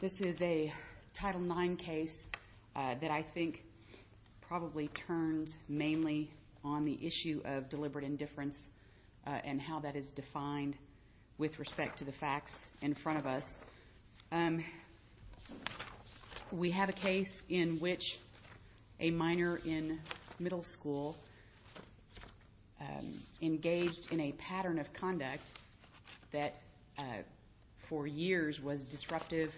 This is a Title IX case that I think probably turns mainly on the issue of deliberate indifference and how that is defined with respect to the facts in front of us. We have a case in which a minor in middle school engaged in a pattern of conduct that for years was disruptive,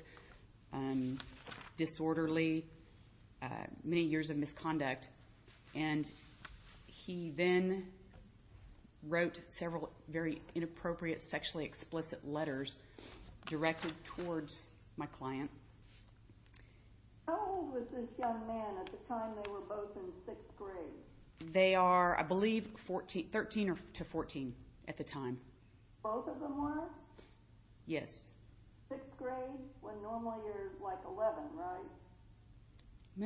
disorderly, many years of misconduct. And he then wrote several very inappropriate sexually explicit letters directed towards my client. How old was this young man at the time they were both in 6th grade? They are, I believe, 13 to 14 at the time. Both of them were? Yes. 6th grade, when normally you're like 11, right?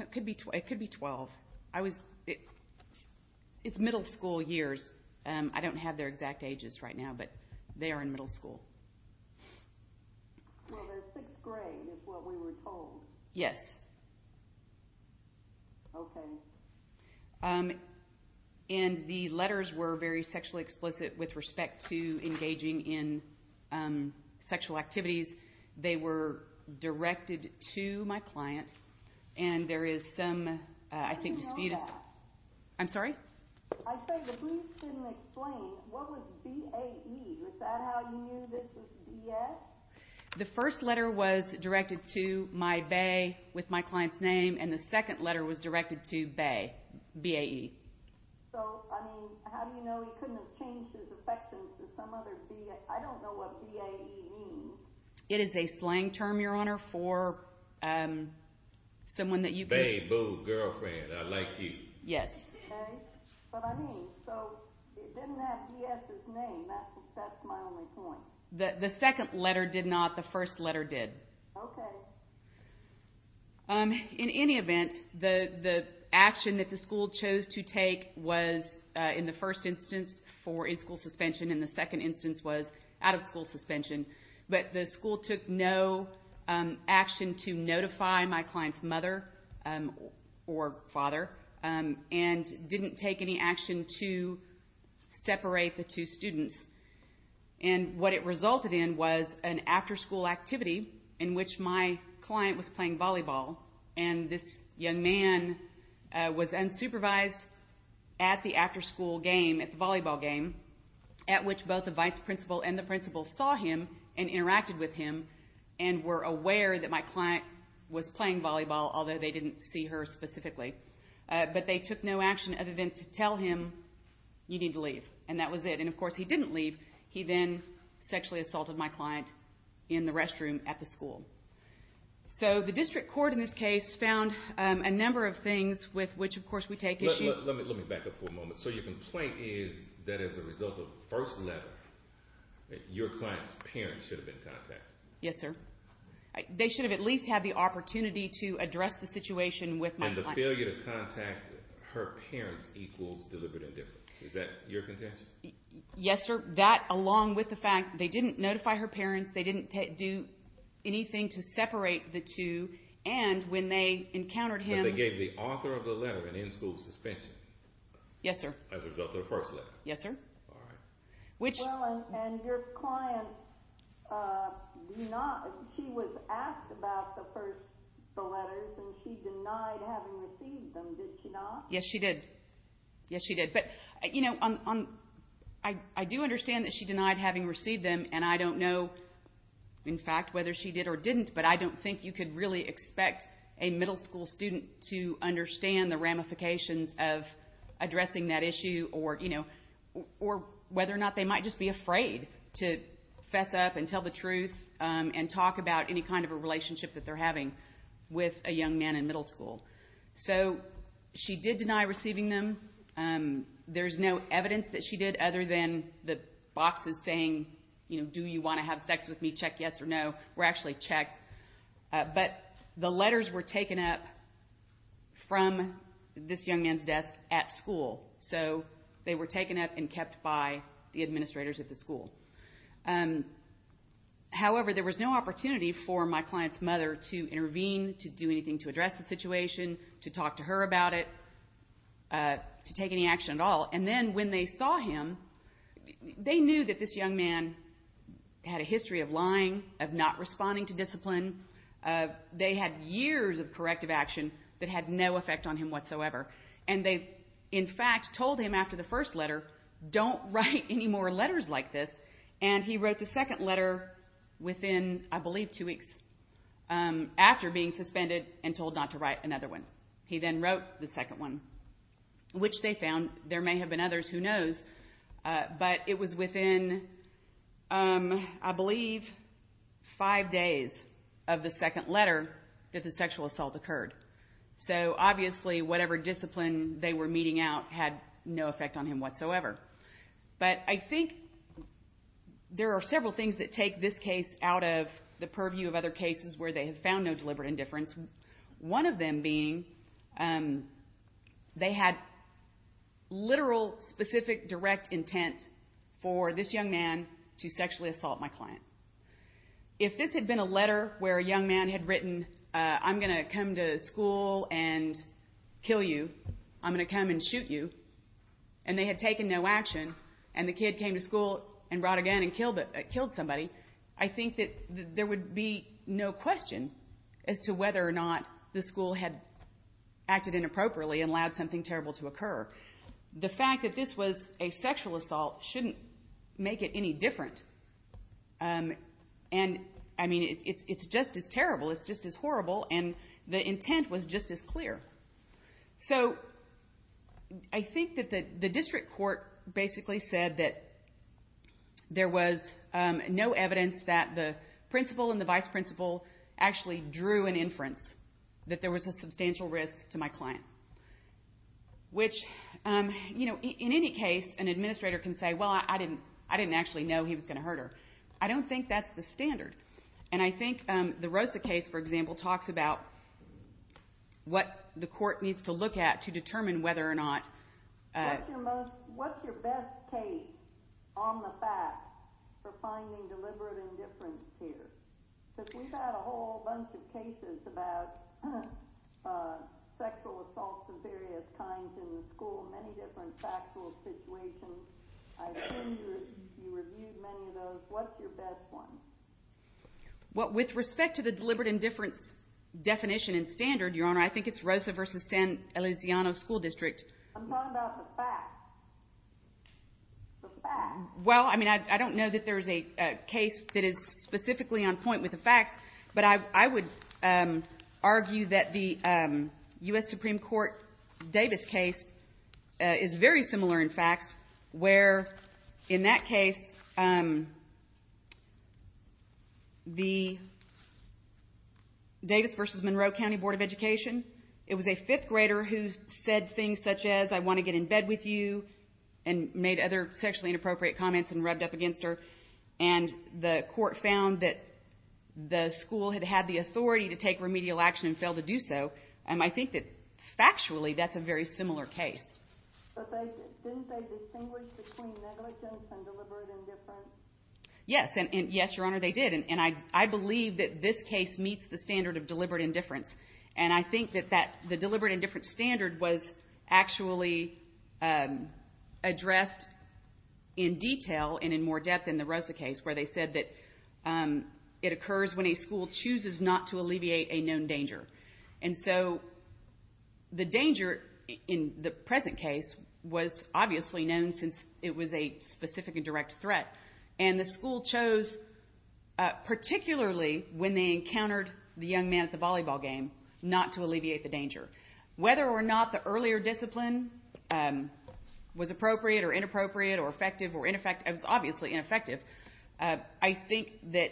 It could be 12. It's middle school years. I don't have their exact ages right now, but they are in middle school. Well, they're 6th grade is what we were told. Yes. Okay. And the letters were very sexually explicit with respect to engaging in sexual activities. They were directed to my client, and there is some, I think, dispute. I didn't know that. I'm sorry? I said the police didn't explain. What was BAE? Was that how you knew this was BS? The first letter was directed to my BAE with my client's name, and the second letter was directed to BAE. So, I mean, how do you know he couldn't have changed his affections to some other BAE? I don't know what BAE means. It is a slang term, Your Honor, for someone that you can say. Babe, boo, girlfriend, I like you. Yes. Okay. But, I mean, so it didn't have BS's name. That's my only point. The second letter did not. The first letter did. Okay. In any event, the action that the school chose to take was, in the first instance, for in-school suspension. And the second instance was out-of-school suspension. But the school took no action to notify my client's mother or father, and didn't take any action to separate the two students. And what it resulted in was an after-school activity in which my client was playing volleyball, and this young man was unsupervised at the after-school game, at the volleyball game, at which both the vice principal and the principal saw him and interacted with him and were aware that my client was playing volleyball, although they didn't see her specifically. But they took no action other than to tell him, you need to leave. And that was it. And, of course, he didn't leave. He then sexually assaulted my client in the restroom at the school. So the district court in this case found a number of things with which, of course, we take issue. Let me back up for a moment. So your complaint is that as a result of the first letter, your client's parents should have been contacted. Yes, sir. They should have at least had the opportunity to address the situation with my client. And the failure to contact her parents equals deliberate indifference. Is that your contention? Yes, sir. That along with the fact they didn't notify her parents, they didn't do anything to separate the two, and when they encountered him. But they gave the author of the letter an in-school suspension. Yes, sir. As a result of the first letter. Yes, sir. All right. Well, and your client, she was asked about the first letters, and she denied having received them. Did she not? Yes, she did. Yes, she did. But, you know, I do understand that she denied having received them, and I don't know, in fact, whether she did or didn't, but I don't think you could really expect a middle school student to understand the ramifications of addressing that issue or whether or not they might just be afraid to fess up and tell the truth and talk about any kind of a relationship that they're having with a young man in middle school. So she did deny receiving them. There's no evidence that she did other than the boxes saying, you know, do you want to have sex with me, check yes or no, were actually checked. But the letters were taken up from this young man's desk at school. So they were taken up and kept by the administrators at the school. However, there was no opportunity for my client's mother to intervene, to do anything to address the situation, to talk to her about it, to take any action at all. And then when they saw him, they knew that this young man had a history of lying, of not responding to discipline. They had years of corrective action that had no effect on him whatsoever. And they, in fact, told him after the first letter, don't write any more letters like this. And he wrote the second letter within, I believe, two weeks after being suspended and told not to write another one. He then wrote the second one, which they found. There may have been others. Who knows? But it was within, I believe, five days of the second letter that the sexual assault occurred. So, obviously, whatever discipline they were meeting out had no effect on him whatsoever. But I think there are several things that take this case out of the purview of other cases where they have found no deliberate indifference. One of them being they had literal, specific, direct intent for this young man to sexually assault my client. If this had been a letter where a young man had written, I'm going to come to school and kill you, I'm going to come and shoot you, and they had taken no action, and the kid came to school and brought a gun and killed somebody, I think that there would be no question as to whether or not the school had acted inappropriately and allowed something terrible to occur. The fact that this was a sexual assault shouldn't make it any different. And, I mean, it's just as terrible, it's just as horrible, and the intent was just as clear. So I think that the district court basically said that there was no evidence that the principal and the vice principal actually drew an inference that there was a substantial risk to my client, which, you know, in any case, an administrator can say, well, I didn't actually know he was going to hurt her. I don't think that's the standard. And I think the Rosa case, for example, talks about what the court needs to look at to determine whether or not What's your best case on the fact for finding deliberate indifference here? Because we've had a whole bunch of cases about sexual assaults of various kinds in the school, many different factual situations. I assume you reviewed many of those. What's your best one? Well, with respect to the deliberate indifference definition and standard, Your Honor, I think it's Rosa v. San Eliseano School District. I'm talking about the fact. The fact. Well, I mean, I don't know that there is a case that is specifically on point with the facts, but I would argue that the U.S. Supreme Court Davis case is very similar in facts, where in that case the Davis v. Monroe County Board of Education, it was a fifth grader who said things such as I want to get in bed with you and made other sexually inappropriate comments and rubbed up against her. And the court found that the school had had the authority to take remedial action and failed to do so. And I think that factually that's a very similar case. But didn't they distinguish between negligence and deliberate indifference? Yes. And, yes, Your Honor, they did. And I believe that this case meets the standard of deliberate indifference. And I think that the deliberate indifference standard was actually addressed in detail and in more depth in the Rosa case where they said that it occurs when a school chooses not to alleviate a known danger. And so the danger in the present case was obviously known since it was a specific and direct threat. And the school chose, particularly when they encountered the young man at the volleyball game, not to alleviate the danger. Whether or not the earlier discipline was appropriate or inappropriate or effective or ineffective, it was obviously ineffective, I think that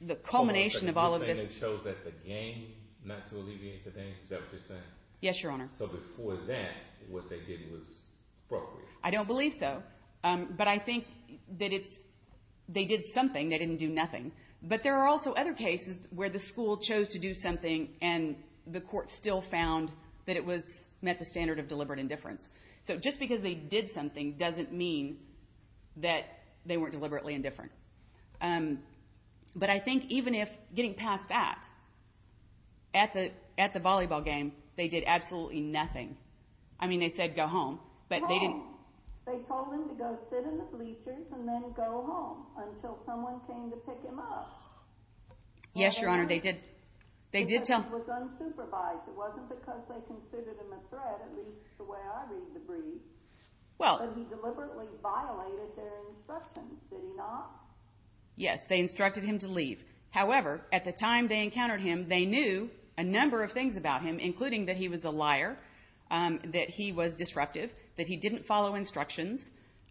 the culmination of all of this. Hold on a second. You're saying they chose at the game not to alleviate the danger? Is that what you're saying? Yes, Your Honor. So before that, what they did was appropriate? I don't believe so. But I think that they did something. They didn't do nothing. But there are also other cases where the school chose to do something and the court still found that it met the standard of deliberate indifference. So just because they did something doesn't mean that they weren't deliberately indifferent. But I think even if getting past that, at the volleyball game, they did absolutely nothing. I mean, they said go home. But they didn't. They told him to go sit in the bleachers and then go home until someone came to pick him up. Yes, Your Honor, they did. It was unsupervised. It wasn't because they considered him a threat, at least the way I read the brief. But he deliberately violated their instructions, did he not? Yes, they instructed him to leave. However, at the time they encountered him, they knew a number of things about him, including that he was a liar, that he was disruptive, that he didn't follow instructions,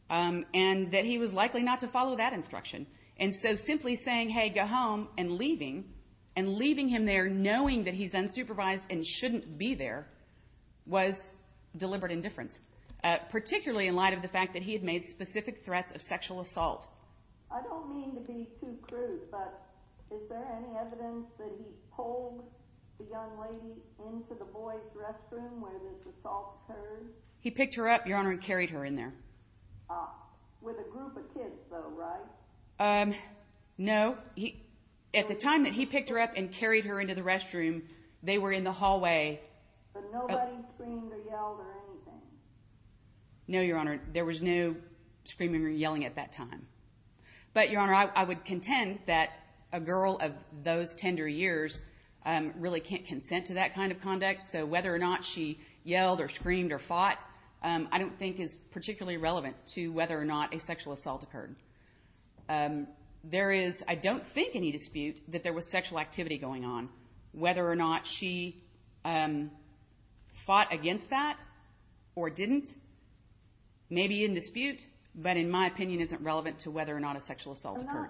and that he was likely not to follow that instruction. And so simply saying, hey, go home, and leaving, and leaving him there knowing that he's unsupervised and shouldn't be there, was deliberate indifference, particularly in light of the fact that he had made specific threats of sexual assault. I don't mean to be too crude, but is there any evidence that he pulled the young lady into the boy's restroom where this assault occurred? He picked her up, Your Honor, and carried her in there. With a group of kids, though, right? No. At the time that he picked her up and carried her into the restroom, they were in the hallway. But nobody screamed or yelled or anything? No, Your Honor. There was no screaming or yelling at that time. But, Your Honor, I would contend that a girl of those tender years really can't consent to that kind of conduct. So whether or not she yelled or screamed or fought, I don't think is particularly relevant to whether or not a sexual assault occurred. There is, I don't think, any dispute that there was sexual activity going on. Whether or not she fought against that or didn't may be in dispute, but in my opinion isn't relevant to whether or not a sexual assault occurred.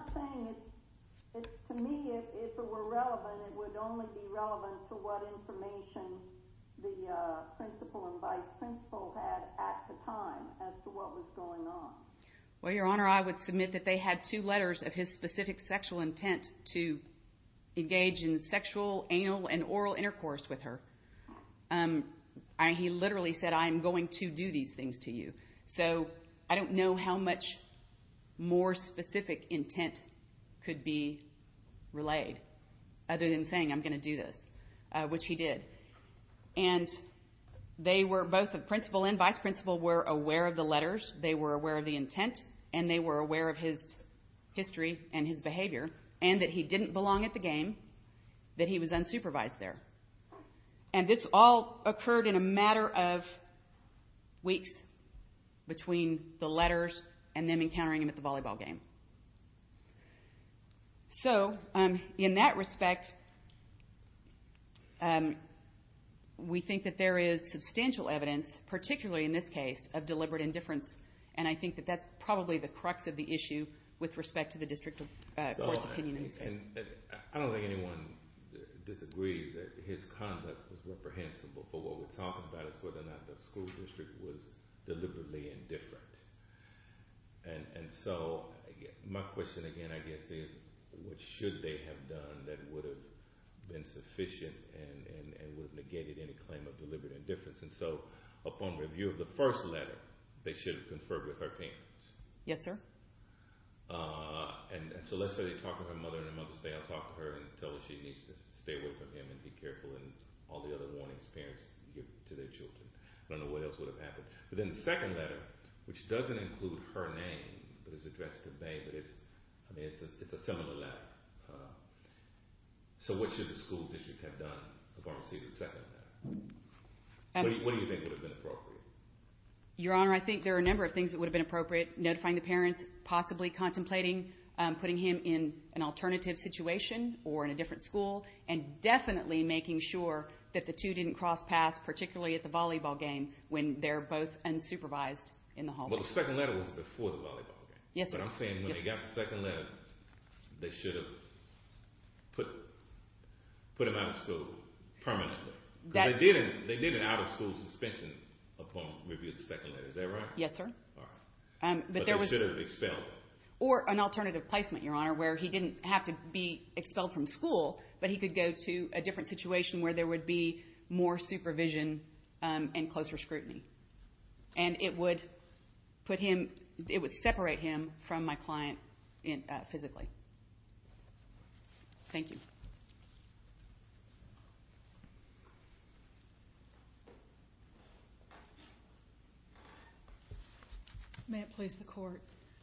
Well, Your Honor, I would submit that they had two letters of his specific sexual intent to engage in sexual, anal, and oral intercourse with her. He literally said, I am going to do these things to you. So I don't know how much more specific intent could be relayed other than saying I'm going to do this, which he did. And they were, both the principal and vice principal, were aware of the letters. They were aware of the intent and they were aware of his history and his behavior and that he didn't belong at the game, that he was unsupervised there. And this all occurred in a matter of weeks between the letters and them encountering him at the volleyball game. So in that respect, we think that there is substantial evidence, particularly in this case, of deliberate indifference. And I think that that's probably the crux of the issue with respect to the district court's opinion in this case. I don't think anyone disagrees that his conduct was reprehensible. But what we're talking about is whether or not the school district was deliberately indifferent. And so my question again, I guess, is what should they have done that would have been sufficient and would have negated any claim of deliberate indifference? And so upon review of the first letter, they should have conferred with her parents. Yes, sir. And so let's say they talk to her mother and her mother say, I'll talk to her and tell her she needs to stay away from him and be careful and all the other warnings parents give to their children. I don't know what else would have happened. But then the second letter, which doesn't include her name but is addressed to May, but it's a similar letter. So what should the school district have done if I received a second letter? What do you think would have been appropriate? Your Honor, I think there are a number of things that would have been appropriate. Notifying the parents, possibly contemplating putting him in an alternative situation or in a different school, and definitely making sure that the two didn't cross paths, particularly at the volleyball game when they're both unsupervised in the hallway. Yes, sir. But I'm saying when they got the second letter, they should have put him out of school permanently. They did an out-of-school suspension upon review of the second letter. Is that right? Yes, sir. But they should have expelled him. Or an alternative placement, Your Honor, where he didn't have to be expelled from school, but he could go to a different situation where there would be more supervision and closer scrutiny. And it would separate him from my client physically. Thank you. May it please the Court.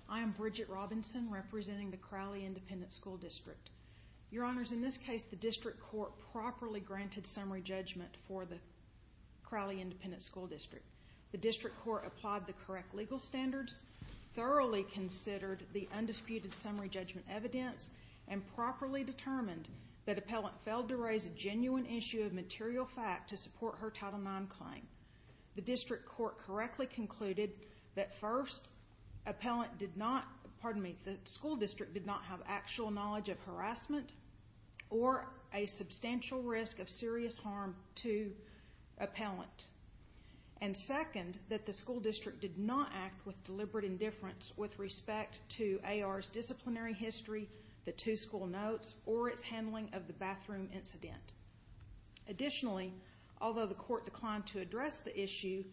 I am Bridget Robinson representing the Crowley Independent School District. Your Honors, in this case, the District Court properly granted summary judgment for the Crowley Independent School District. The District Court applied the correct legal standards, thoroughly considered the undisputed summary judgment evidence, and properly determined that appellant failed to raise a genuine issue of material fact to support her Title IX claim. The District Court correctly concluded that first, appellant did not, pardon me, the school district did not have actual knowledge of harassment or a substantial risk of serious harm to appellant. And second, that the school district did not act with deliberate indifference with respect to AR's disciplinary history, the two school notes, or its handling of the bathroom incident. Additionally, although the Court declined to address the issue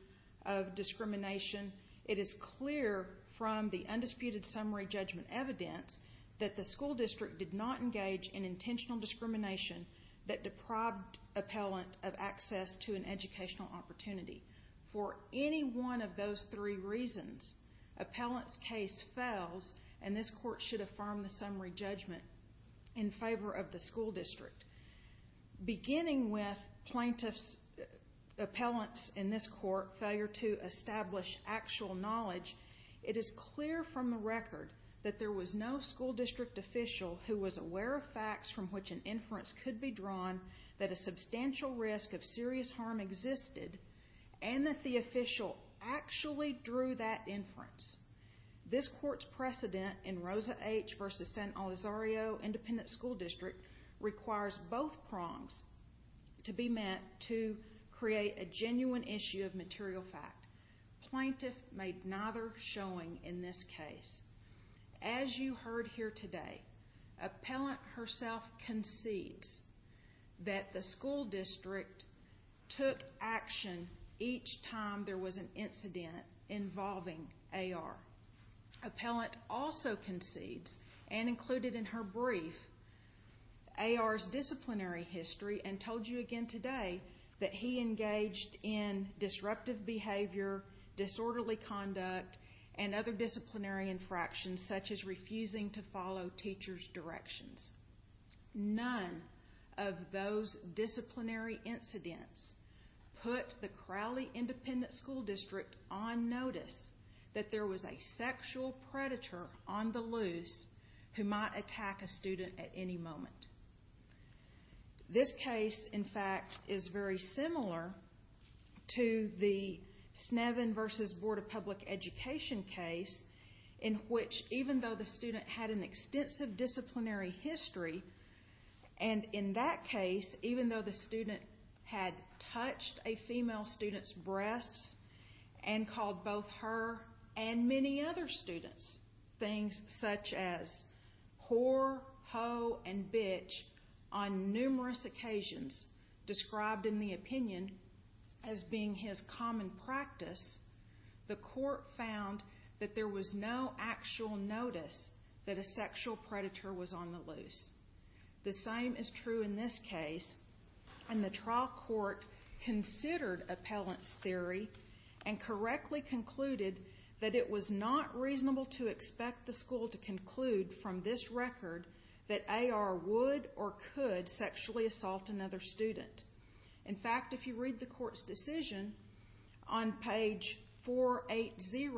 of discrimination, it is clear from the undisputed summary judgment evidence that the school district did not engage in intentional discrimination that deprived appellant of access to an educational opportunity. For any one of those three reasons, appellant's case fails, and this Court should affirm the summary judgment in favor of the school district. Beginning with plaintiff's, appellant's, in this Court, failure to establish actual knowledge, it is clear from the record that there was no school district official who was aware of facts from which an inference could be drawn that a substantial risk of serious harm existed, and that the official actually drew that inference. This Court's precedent in Rosa H. v. San Olivario Independent School District requires both prongs to be met to create a genuine issue of material fact. Plaintiff made neither showing in this case. As you heard here today, appellant herself concedes that the school district took action each time there was an incident involving AR. Appellant also concedes and included in her brief AR's disciplinary history and told you again today that he engaged in disruptive behavior, disorderly conduct, and other disciplinary infractions such as refusing to follow teacher's directions. None of those disciplinary incidents put the Crowley Independent School District on notice that there was a sexual predator on the loose who might attack a student at any moment. This case, in fact, is very similar to the Snevin v. Board of Public Education case in which even though the student had an extensive disciplinary history, and in that case, even though the student had touched a female student's breasts and called both her and many other students things such as whore, hoe, and bitch on numerous occasions described in the opinion as being his common practice, the court found that there was no actual notice that a sexual predator was on the loose. The same is true in this case, and the trial court considered appellant's theory and correctly concluded that it was not reasonable to expect the school to conclude from this record that AR would or could sexually assault another student. In fact, if you read the court's decision on page 480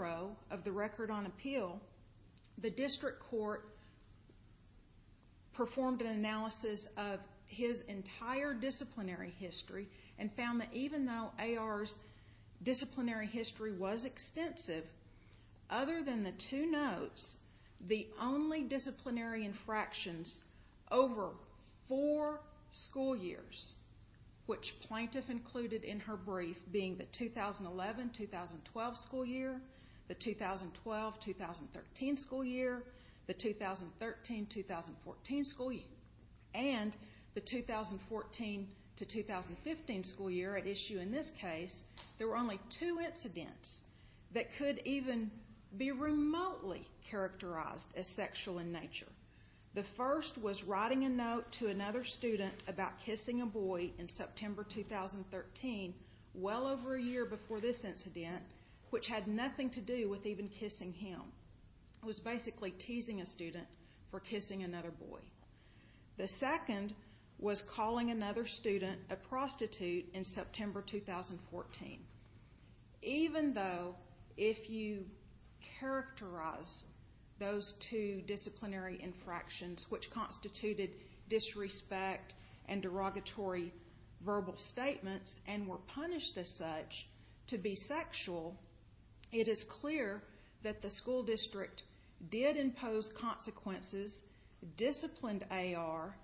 of the record on appeal, the district court performed an analysis of his entire disciplinary history and found that even though AR's disciplinary history was extensive, other than the two notes, the only disciplinary infractions over four school years, which plaintiff included in her brief, being the 2011-2012 school year, the 2012-2013 school year, the 2013-2014 school year, and the 2014-2015 school year at issue in this case, there were only two incidents that could even be remotely characterized as sexual in nature. The first was writing a note to another student about kissing a boy in September 2013, well over a year before this incident, which had nothing to do with even kissing him. It was basically teasing a student for kissing another boy. The second was calling another student a prostitute in September 2014. Even though if you characterize those two disciplinary infractions, which constituted disrespect and derogatory verbal statements and were punished as such to be sexual, it is clear that the school district did impose consequences, disciplined AR,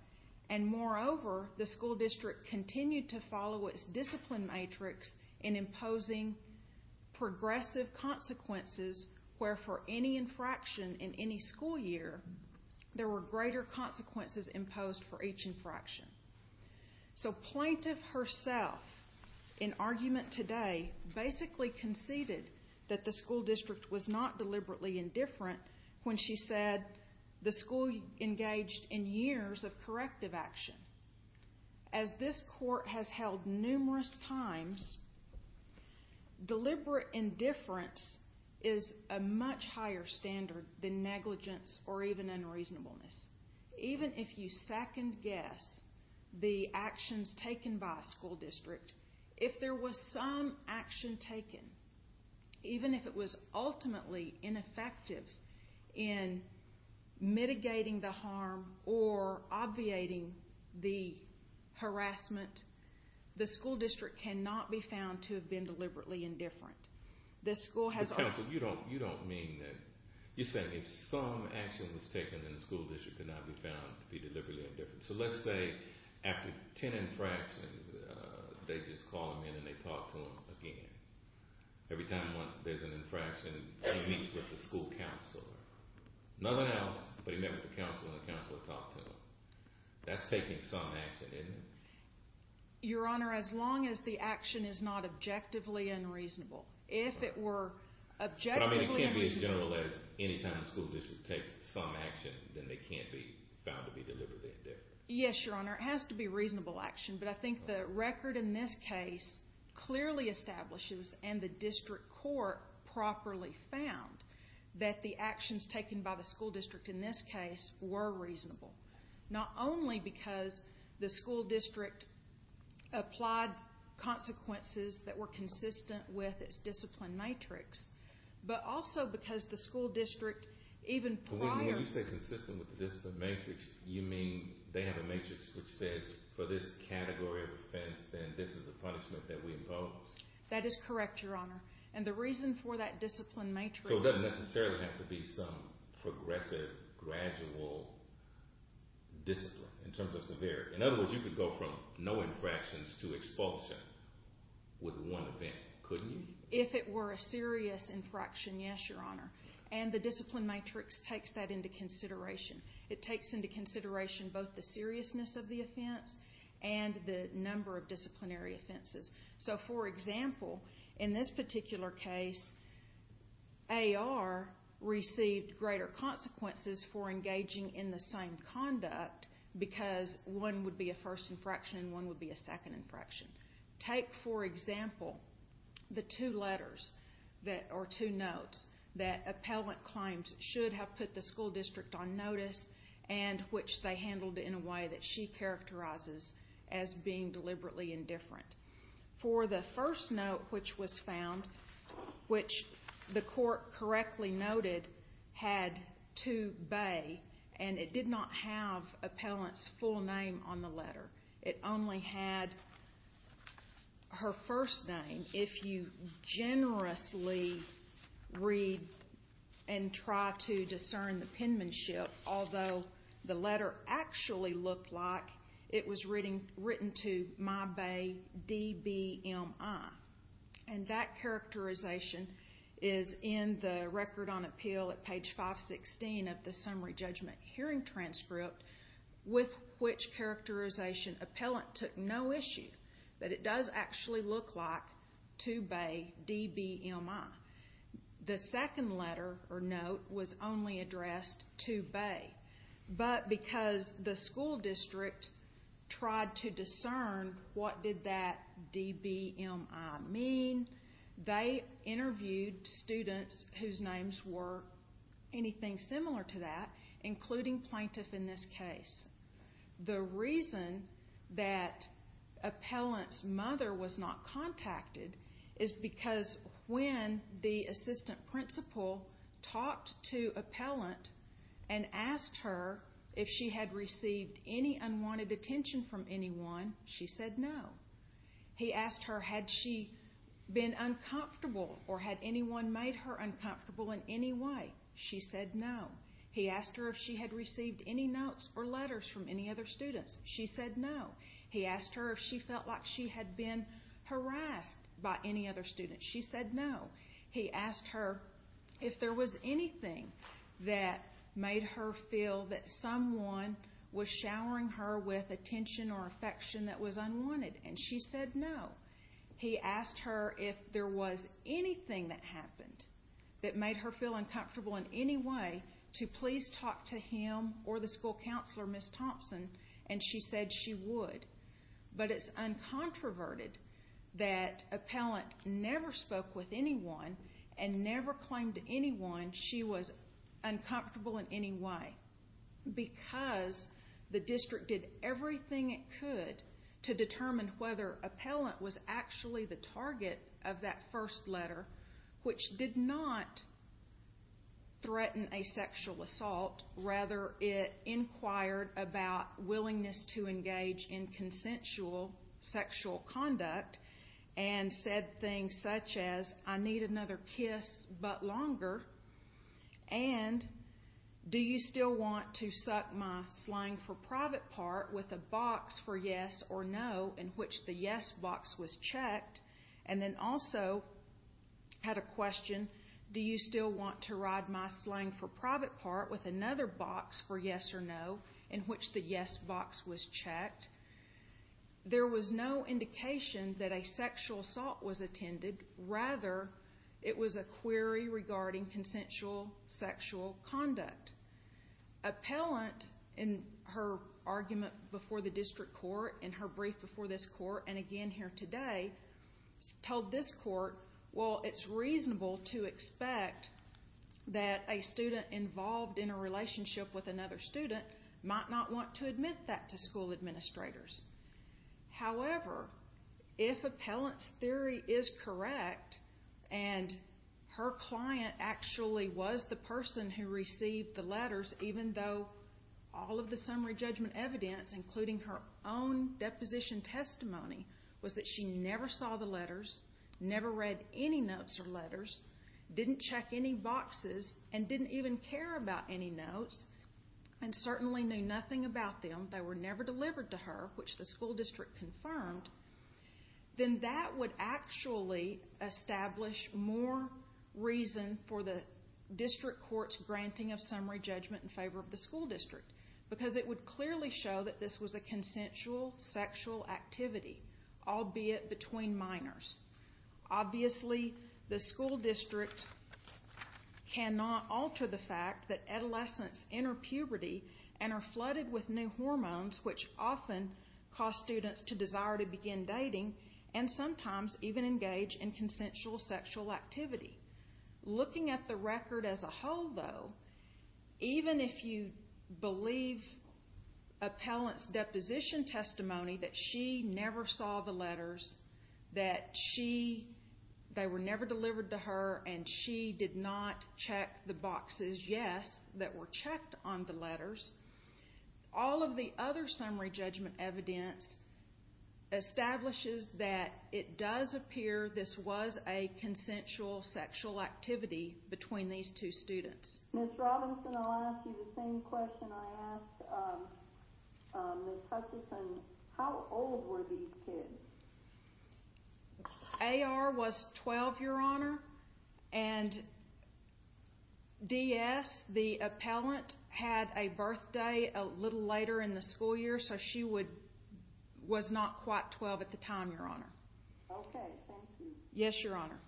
and moreover, the school district continued to follow its discipline matrix in imposing progressive consequences where for any infraction in any school year, there were greater consequences imposed for each infraction. So plaintiff herself, in argument today, basically conceded that the school district was not deliberately indifferent when she said the school engaged in years of corrective action. As this court has held numerous times, deliberate indifference is a much higher standard than negligence or even unreasonableness. Even if you second-guess the actions taken by a school district, if there was some action taken, even if it was ultimately ineffective in mitigating the harm or obviating the harassment, the school district cannot be found to have been deliberately indifferent. But counsel, you don't mean that... You're saying if some action was taken, then the school district could not be found to be deliberately indifferent. So let's say after 10 infractions, they just call him in and they talk to him again. Every time there's an infraction, he meets with the school counselor. Nothing else, but he met with the counselor and the counselor talked to him. That's taking some action, isn't it? Your Honor, as long as the action is not objectively unreasonable. If it were objectively unreasonable... But it can't be as general as any time the school district takes some action, then they can't be found to be deliberately indifferent. Yes, Your Honor. It has to be reasonable action. But I think the record in this case clearly establishes, and the district court properly found, that the actions taken by the school district in this case were reasonable, not only because the school district applied consequences that were consistent with its discipline matrix, but also because the school district even prior... When you say consistent with the discipline matrix, you mean they have a matrix which says for this category of offense, then this is the punishment that we impose? That is correct, Your Honor. And the reason for that discipline matrix... It doesn't necessarily have to be some progressive, gradual discipline in terms of severity. In other words, you could go from no infractions to expulsion with one event, couldn't you? If it were a serious infraction, yes, Your Honor. And the discipline matrix takes that into consideration. It takes into consideration both the seriousness of the offense and the number of disciplinary offenses. So, for example, in this particular case, A.R. received greater consequences for engaging in the same conduct because one would be a first infraction and one would be a second infraction. Take, for example, the two letters or two notes that appellant claims should have put the school district on notice and which they handled in a way that she characterizes as being deliberately indifferent. For the first note which was found, which the court correctly noted had 2B and it did not have appellant's full name on the letter. It only had her first name. If you generously read and try to discern the penmanship, although the letter actually looked like it was written to my bae, D.B.M.I. And that characterization is in the record on appeal at page 516 of the summary judgment hearing transcript with which characterization appellant took no issue that it does actually look like 2B, D.B.M.I. The second letter or note was only addressed to bae. But because the school district tried to discern what did that D.B.M.I. mean, they interviewed students whose names were anything similar to that, including plaintiff in this case. The reason that appellant's mother was not contacted is because when the assistant principal talked to appellant and asked her if she had received any unwanted attention from anyone, she said no. He asked her had she been uncomfortable or had anyone made her uncomfortable in any way. She said no. He asked her if she had received any notes or letters from any other students. She said no. He asked her if she felt like she had been harassed by any other students. She said no. He asked her if there was anything that made her feel that someone was showering her with attention or affection that was unwanted. And she said no. He asked her if there was anything that happened that made her feel uncomfortable in any way to please talk to him or the school counselor, Ms. Thompson, and she said she would. But it's uncontroverted that appellant never spoke with anyone and never claimed to anyone she was uncomfortable in any way because the district did everything it could to determine whether appellant was actually the target of that first letter, which did not threaten a sexual assault. Rather, it inquired about willingness to engage in consensual sexual conduct and said things such as I need another kiss but longer and do you still want to suck my slang for private part with a box for yes or no in which the yes box was checked and then also had a question, do you still want to ride my slang for private part with another box for yes or no in which the yes box was checked. There was no indication that a sexual assault was attended. Rather, it was a query regarding consensual sexual conduct. Appellant, in her argument before the district court, in her brief before this court, and again here today, told this court, well, it's reasonable to expect that a student involved in a relationship with another student might not want to admit that to school administrators. However, if appellant's theory is correct and her client actually was the person who received the letters, even though all of the summary judgment evidence, including her own deposition testimony, was that she never saw the letters, never read any notes or letters, didn't check any boxes, and didn't even care about any notes and certainly knew nothing about them, they were never delivered to her, which the school district confirmed, then that would actually establish more reason for the district court's granting of summary judgment in favor of the school district because it would clearly show that this was a consensual sexual activity, albeit between minors. Obviously, the school district cannot alter the fact that adolescents enter puberty and are flooded with new hormones, which often cause students to desire to begin dating and sometimes even engage in consensual sexual activity. Looking at the record as a whole, though, even if you believe appellant's deposition testimony that she never saw the letters, that they were never delivered to her and she did not check the boxes, yes, that were checked on the letters, all of the other summary judgment evidence establishes that it does appear this was a consensual sexual activity between these two students. Ms. Robinson, I'll ask you the same question I asked Ms. Hutchinson. How old were these kids? AR was 12, Your Honor, and DS, the appellant, had a birthday a little later in the school year, so she was not quite 12 at the time, Your Honor. Okay, thank you. Yes, Your Honor.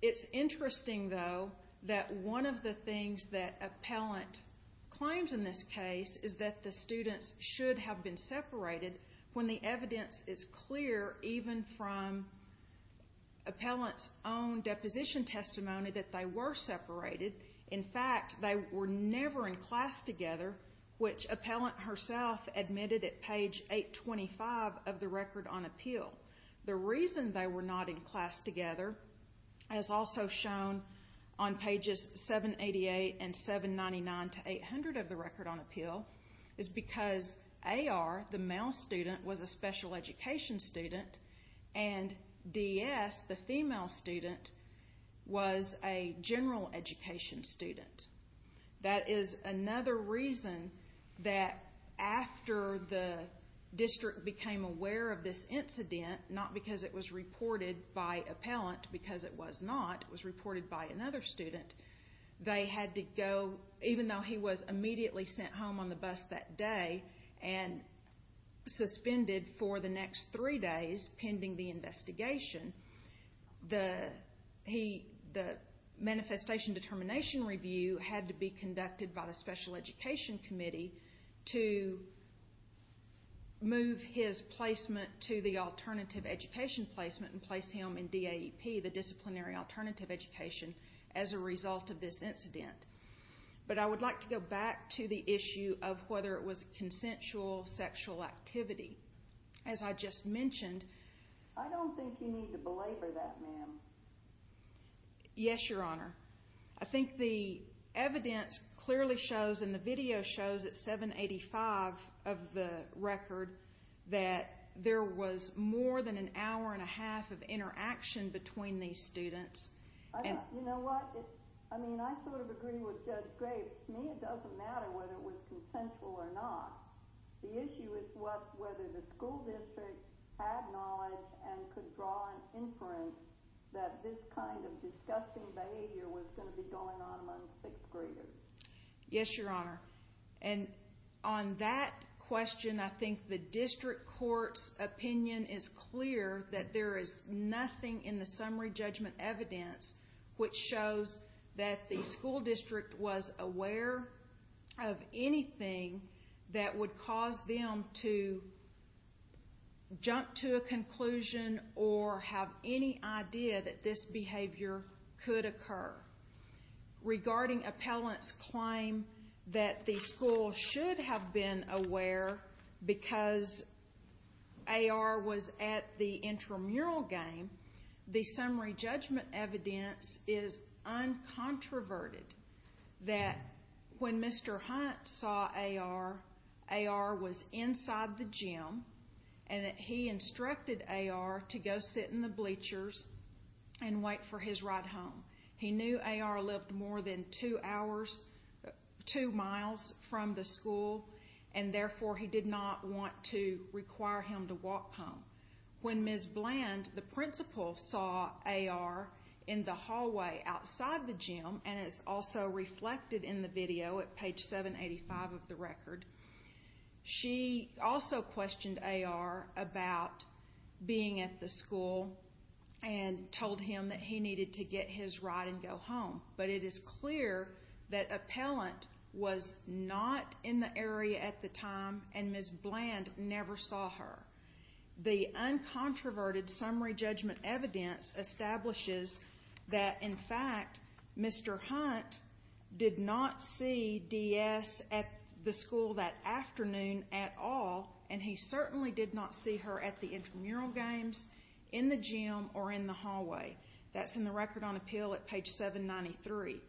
It's interesting, though, that one of the things that appellant claims in this case is that the students should have been separated when the evidence is clear even from appellant's own deposition testimony that they were separated. In fact, they were never in class together, which appellant herself admitted at page 825 of the record on appeal. The reason they were not in class together, as also shown on pages 788 and 799 to 800 of the record on appeal, is because AR, the male student, was a special education student, and DS, the female student, was a general education student. That is another reason that after the district became aware of this incident, not because it was reported by appellant, because it was not, it was reported by another student, they had to go, even though he was immediately sent home on the bus that day and suspended for the next three days pending the investigation, the manifestation determination review had to be conducted by the special education committee to move his placement to the alternative education placement and place him in DAEP, the disciplinary alternative education, as a result of this incident. But I would like to go back to the issue of whether it was consensual sexual activity. As I just mentioned... I don't think you need to belabor that, ma'am. Yes, Your Honor. I think the evidence clearly shows, and the video shows, at 785 of the record, that there was more than an hour and a half of interaction between these students. You know what? I mean, I sort of agree with Judge Graves. To me, it doesn't matter whether it was consensual or not. The issue is whether the school district had knowledge and could draw an inference that this kind of disgusting behavior was going to be going on among sixth graders. Yes, Your Honor. And on that question, I think the district court's opinion is clear that there is nothing in the summary judgment evidence which shows that the school district was aware of anything that would cause them to jump to a conclusion or have any idea that this behavior could occur. Regarding appellant's claim that the school should have been aware because A.R. was at the intramural game, the summary judgment evidence is uncontroverted, that when Mr. Hunt saw A.R., A.R. was inside the gym and that he instructed A.R. to go sit in the bleachers and wait for his ride home. He knew A.R. lived more than two hours, two miles from the school, and therefore he did not want to require him to walk home. When Ms. Bland, the principal, saw A.R. in the hallway outside the gym, and it's also reflected in the video at page 785 of the record, she also questioned A.R. about being at the school and told him that he needed to get his ride and go home. But it is clear that appellant was not in the area at the time, and Ms. Bland never saw her. The uncontroverted summary judgment evidence establishes that, in fact, Mr. Hunt did not see D.S. at the school that afternoon at all, and he certainly did not see her at the intramural games, in the gym, or in the hallway. That's in the record on appeal at page 793.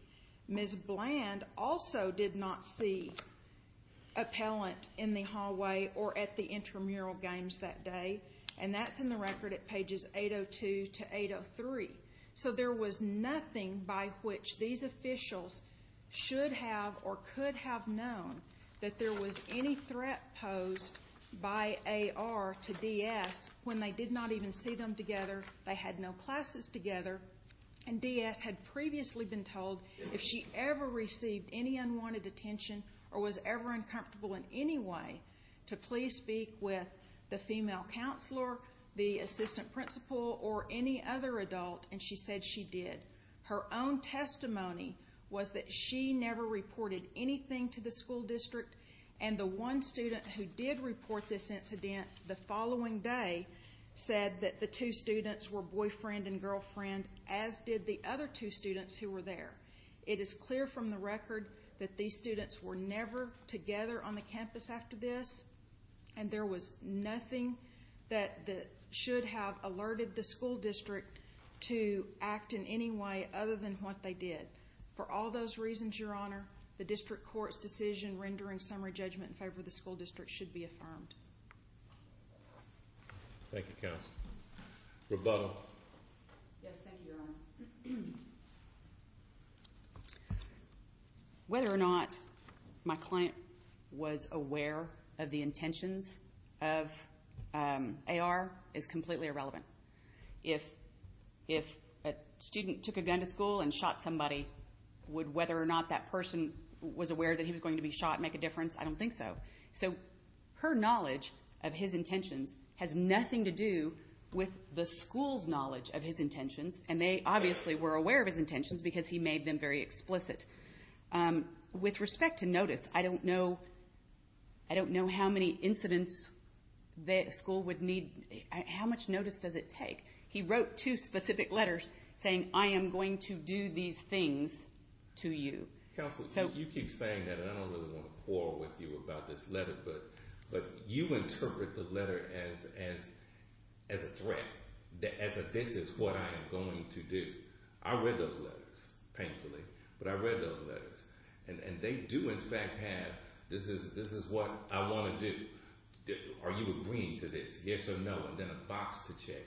Ms. Bland also did not see appellant in the hallway or at the intramural games that day, and that's in the record at pages 802 to 803. So there was nothing by which these officials should have or could have known that there was any threat posed by A.R. to D.S. when they did not even see them together, they had no classes together, and D.S. had previously been told if she ever received any unwanted attention or was ever uncomfortable in any way to please speak with the female counselor, the assistant principal, or any other adult, and she said she did. Her own testimony was that she never reported anything to the school district, and the one student who did report this incident the following day said that the two students were boyfriend and girlfriend, as did the other two students who were there. It is clear from the record that these students were never together on the campus after this, and there was nothing that should have alerted the school district to act in any way other than what they did. For all those reasons, Your Honor, the district court's decision rendering summary judgment in favor of the school district should be affirmed. Thank you, counsel. Rebuttal. Yes, thank you, Your Honor. Whether or not my client was aware of the intentions of A.R. is completely irrelevant. If a student took a gun to school and shot somebody, would whether or not that person was aware that he was going to be shot make a difference? I don't think so. So her knowledge of his intentions has nothing to do with the school's knowledge of his intentions, and they obviously were aware of his intentions because he made them very explicit. With respect to notice, I don't know how many incidents the school would need. How much notice does it take? He wrote two specific letters saying, I am going to do these things to you. Counsel, you keep saying that, and I don't really want to quarrel with you about this letter, but you interpret the letter as a threat, as a this is what I am going to do. I read those letters, painfully, but I read those letters, and they do in fact have this is what I want to do. Are you agreeing to this, yes or no, and then a box to check.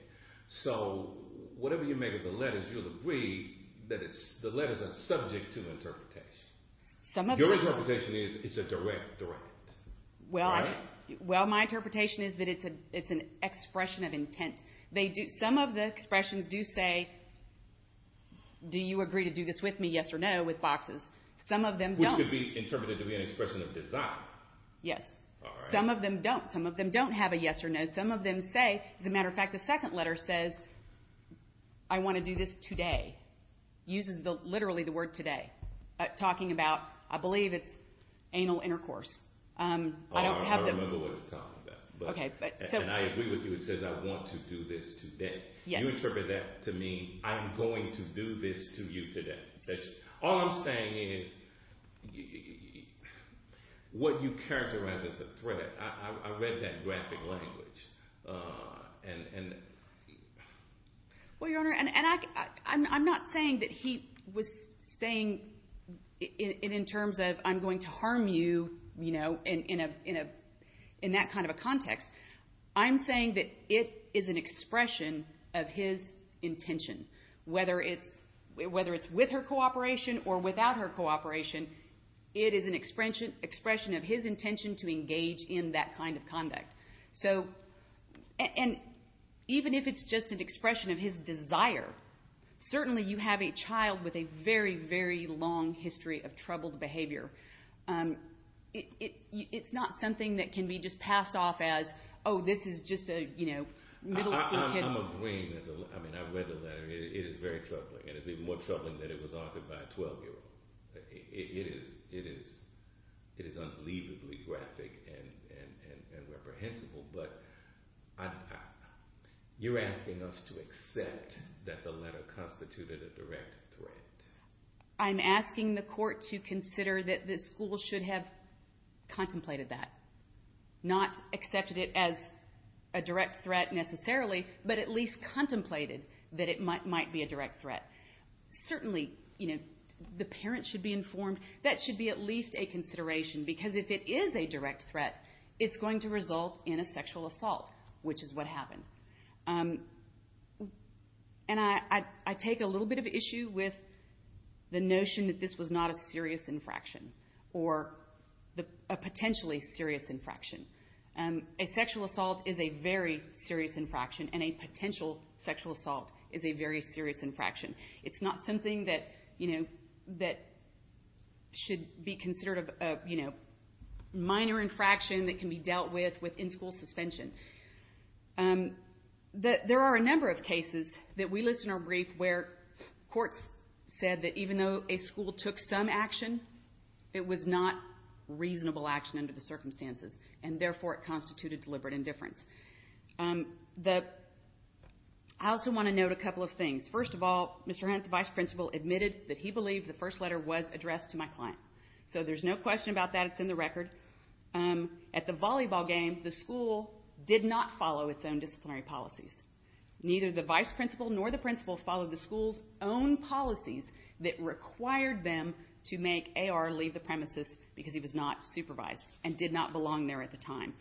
So whatever you make of the letters, you'll agree that the letters are subject to interpretation. Your interpretation is it's a direct threat. Well, my interpretation is that it's an expression of intent. Some of the expressions do say, do you agree to do this with me, yes or no, with boxes. Which could be interpreted to be an expression of desire. Yes. Some of them don't. Some of them don't have a yes or no. Some of them say, as a matter of fact, the second letter says, I want to do this today. It uses literally the word today, talking about I believe it's anal intercourse. I remember what it's talking about, and I agree with you. It says I want to do this today. You interpret that to mean I'm going to do this to you today. All I'm saying is what you characterize as a threat. I read that graphic language. Well, Your Honor, and I'm not saying that he was saying it in terms of I'm going to harm you, you know, in that kind of a context. I'm saying that it is an expression of his intention. Whether it's with her cooperation or without her cooperation, it is an expression of his intention to engage in that kind of conduct. And even if it's just an expression of his desire, certainly you have a child with a very, very long history of troubled behavior. It's not something that can be just passed off as, oh, this is just a, you know, middle school kid. I'm agreeing. I mean, I read the letter. It is very troubling, and it's even more troubling that it was authored by a 12-year-old. It is unbelievably graphic and reprehensible, but you're asking us to accept that the letter constituted a direct threat. I'm asking the court to consider that the school should have contemplated that, not accepted it as a direct threat necessarily, but at least contemplated that it might be a direct threat. Certainly, you know, the parent should be informed. That should be at least a consideration because if it is a direct threat, it's going to result in a sexual assault, which is what happened. And I take a little bit of issue with the notion that this was not a serious infraction or a potentially serious infraction. A sexual assault is a very serious infraction, and a potential sexual assault is a very serious infraction. It's not something that, you know, that should be considered a, you know, minor infraction that can be dealt with in school suspension. There are a number of cases that we list in our brief where courts said that even though a school took some action, it was not reasonable action under the circumstances, and therefore it constituted deliberate indifference. I also want to note a couple of things. First of all, Mr. Hunt, the vice principal, admitted that he believed the first letter was addressed to my client. So there's no question about that. It's in the record. At the volleyball game, the school did not follow its own disciplinary policies. Neither the vice principal nor the principal followed the school's own policies that required them to make A.R. leave the premises because he was not supervised and did not belong there at the time.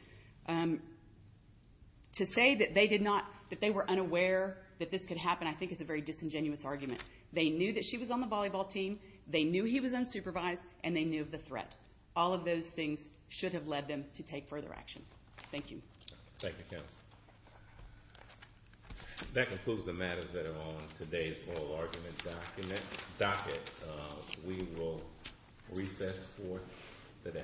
To say that they did not, that they were unaware that this could happen, I think, is a very disingenuous argument. They knew that she was on the volleyball team. They knew he was unsupervised, and they knew of the threat. All of those things should have led them to take further action. Thank you. Thank you, counsel. That concludes the matters that are on today's oral argument docket. We will recess for the day.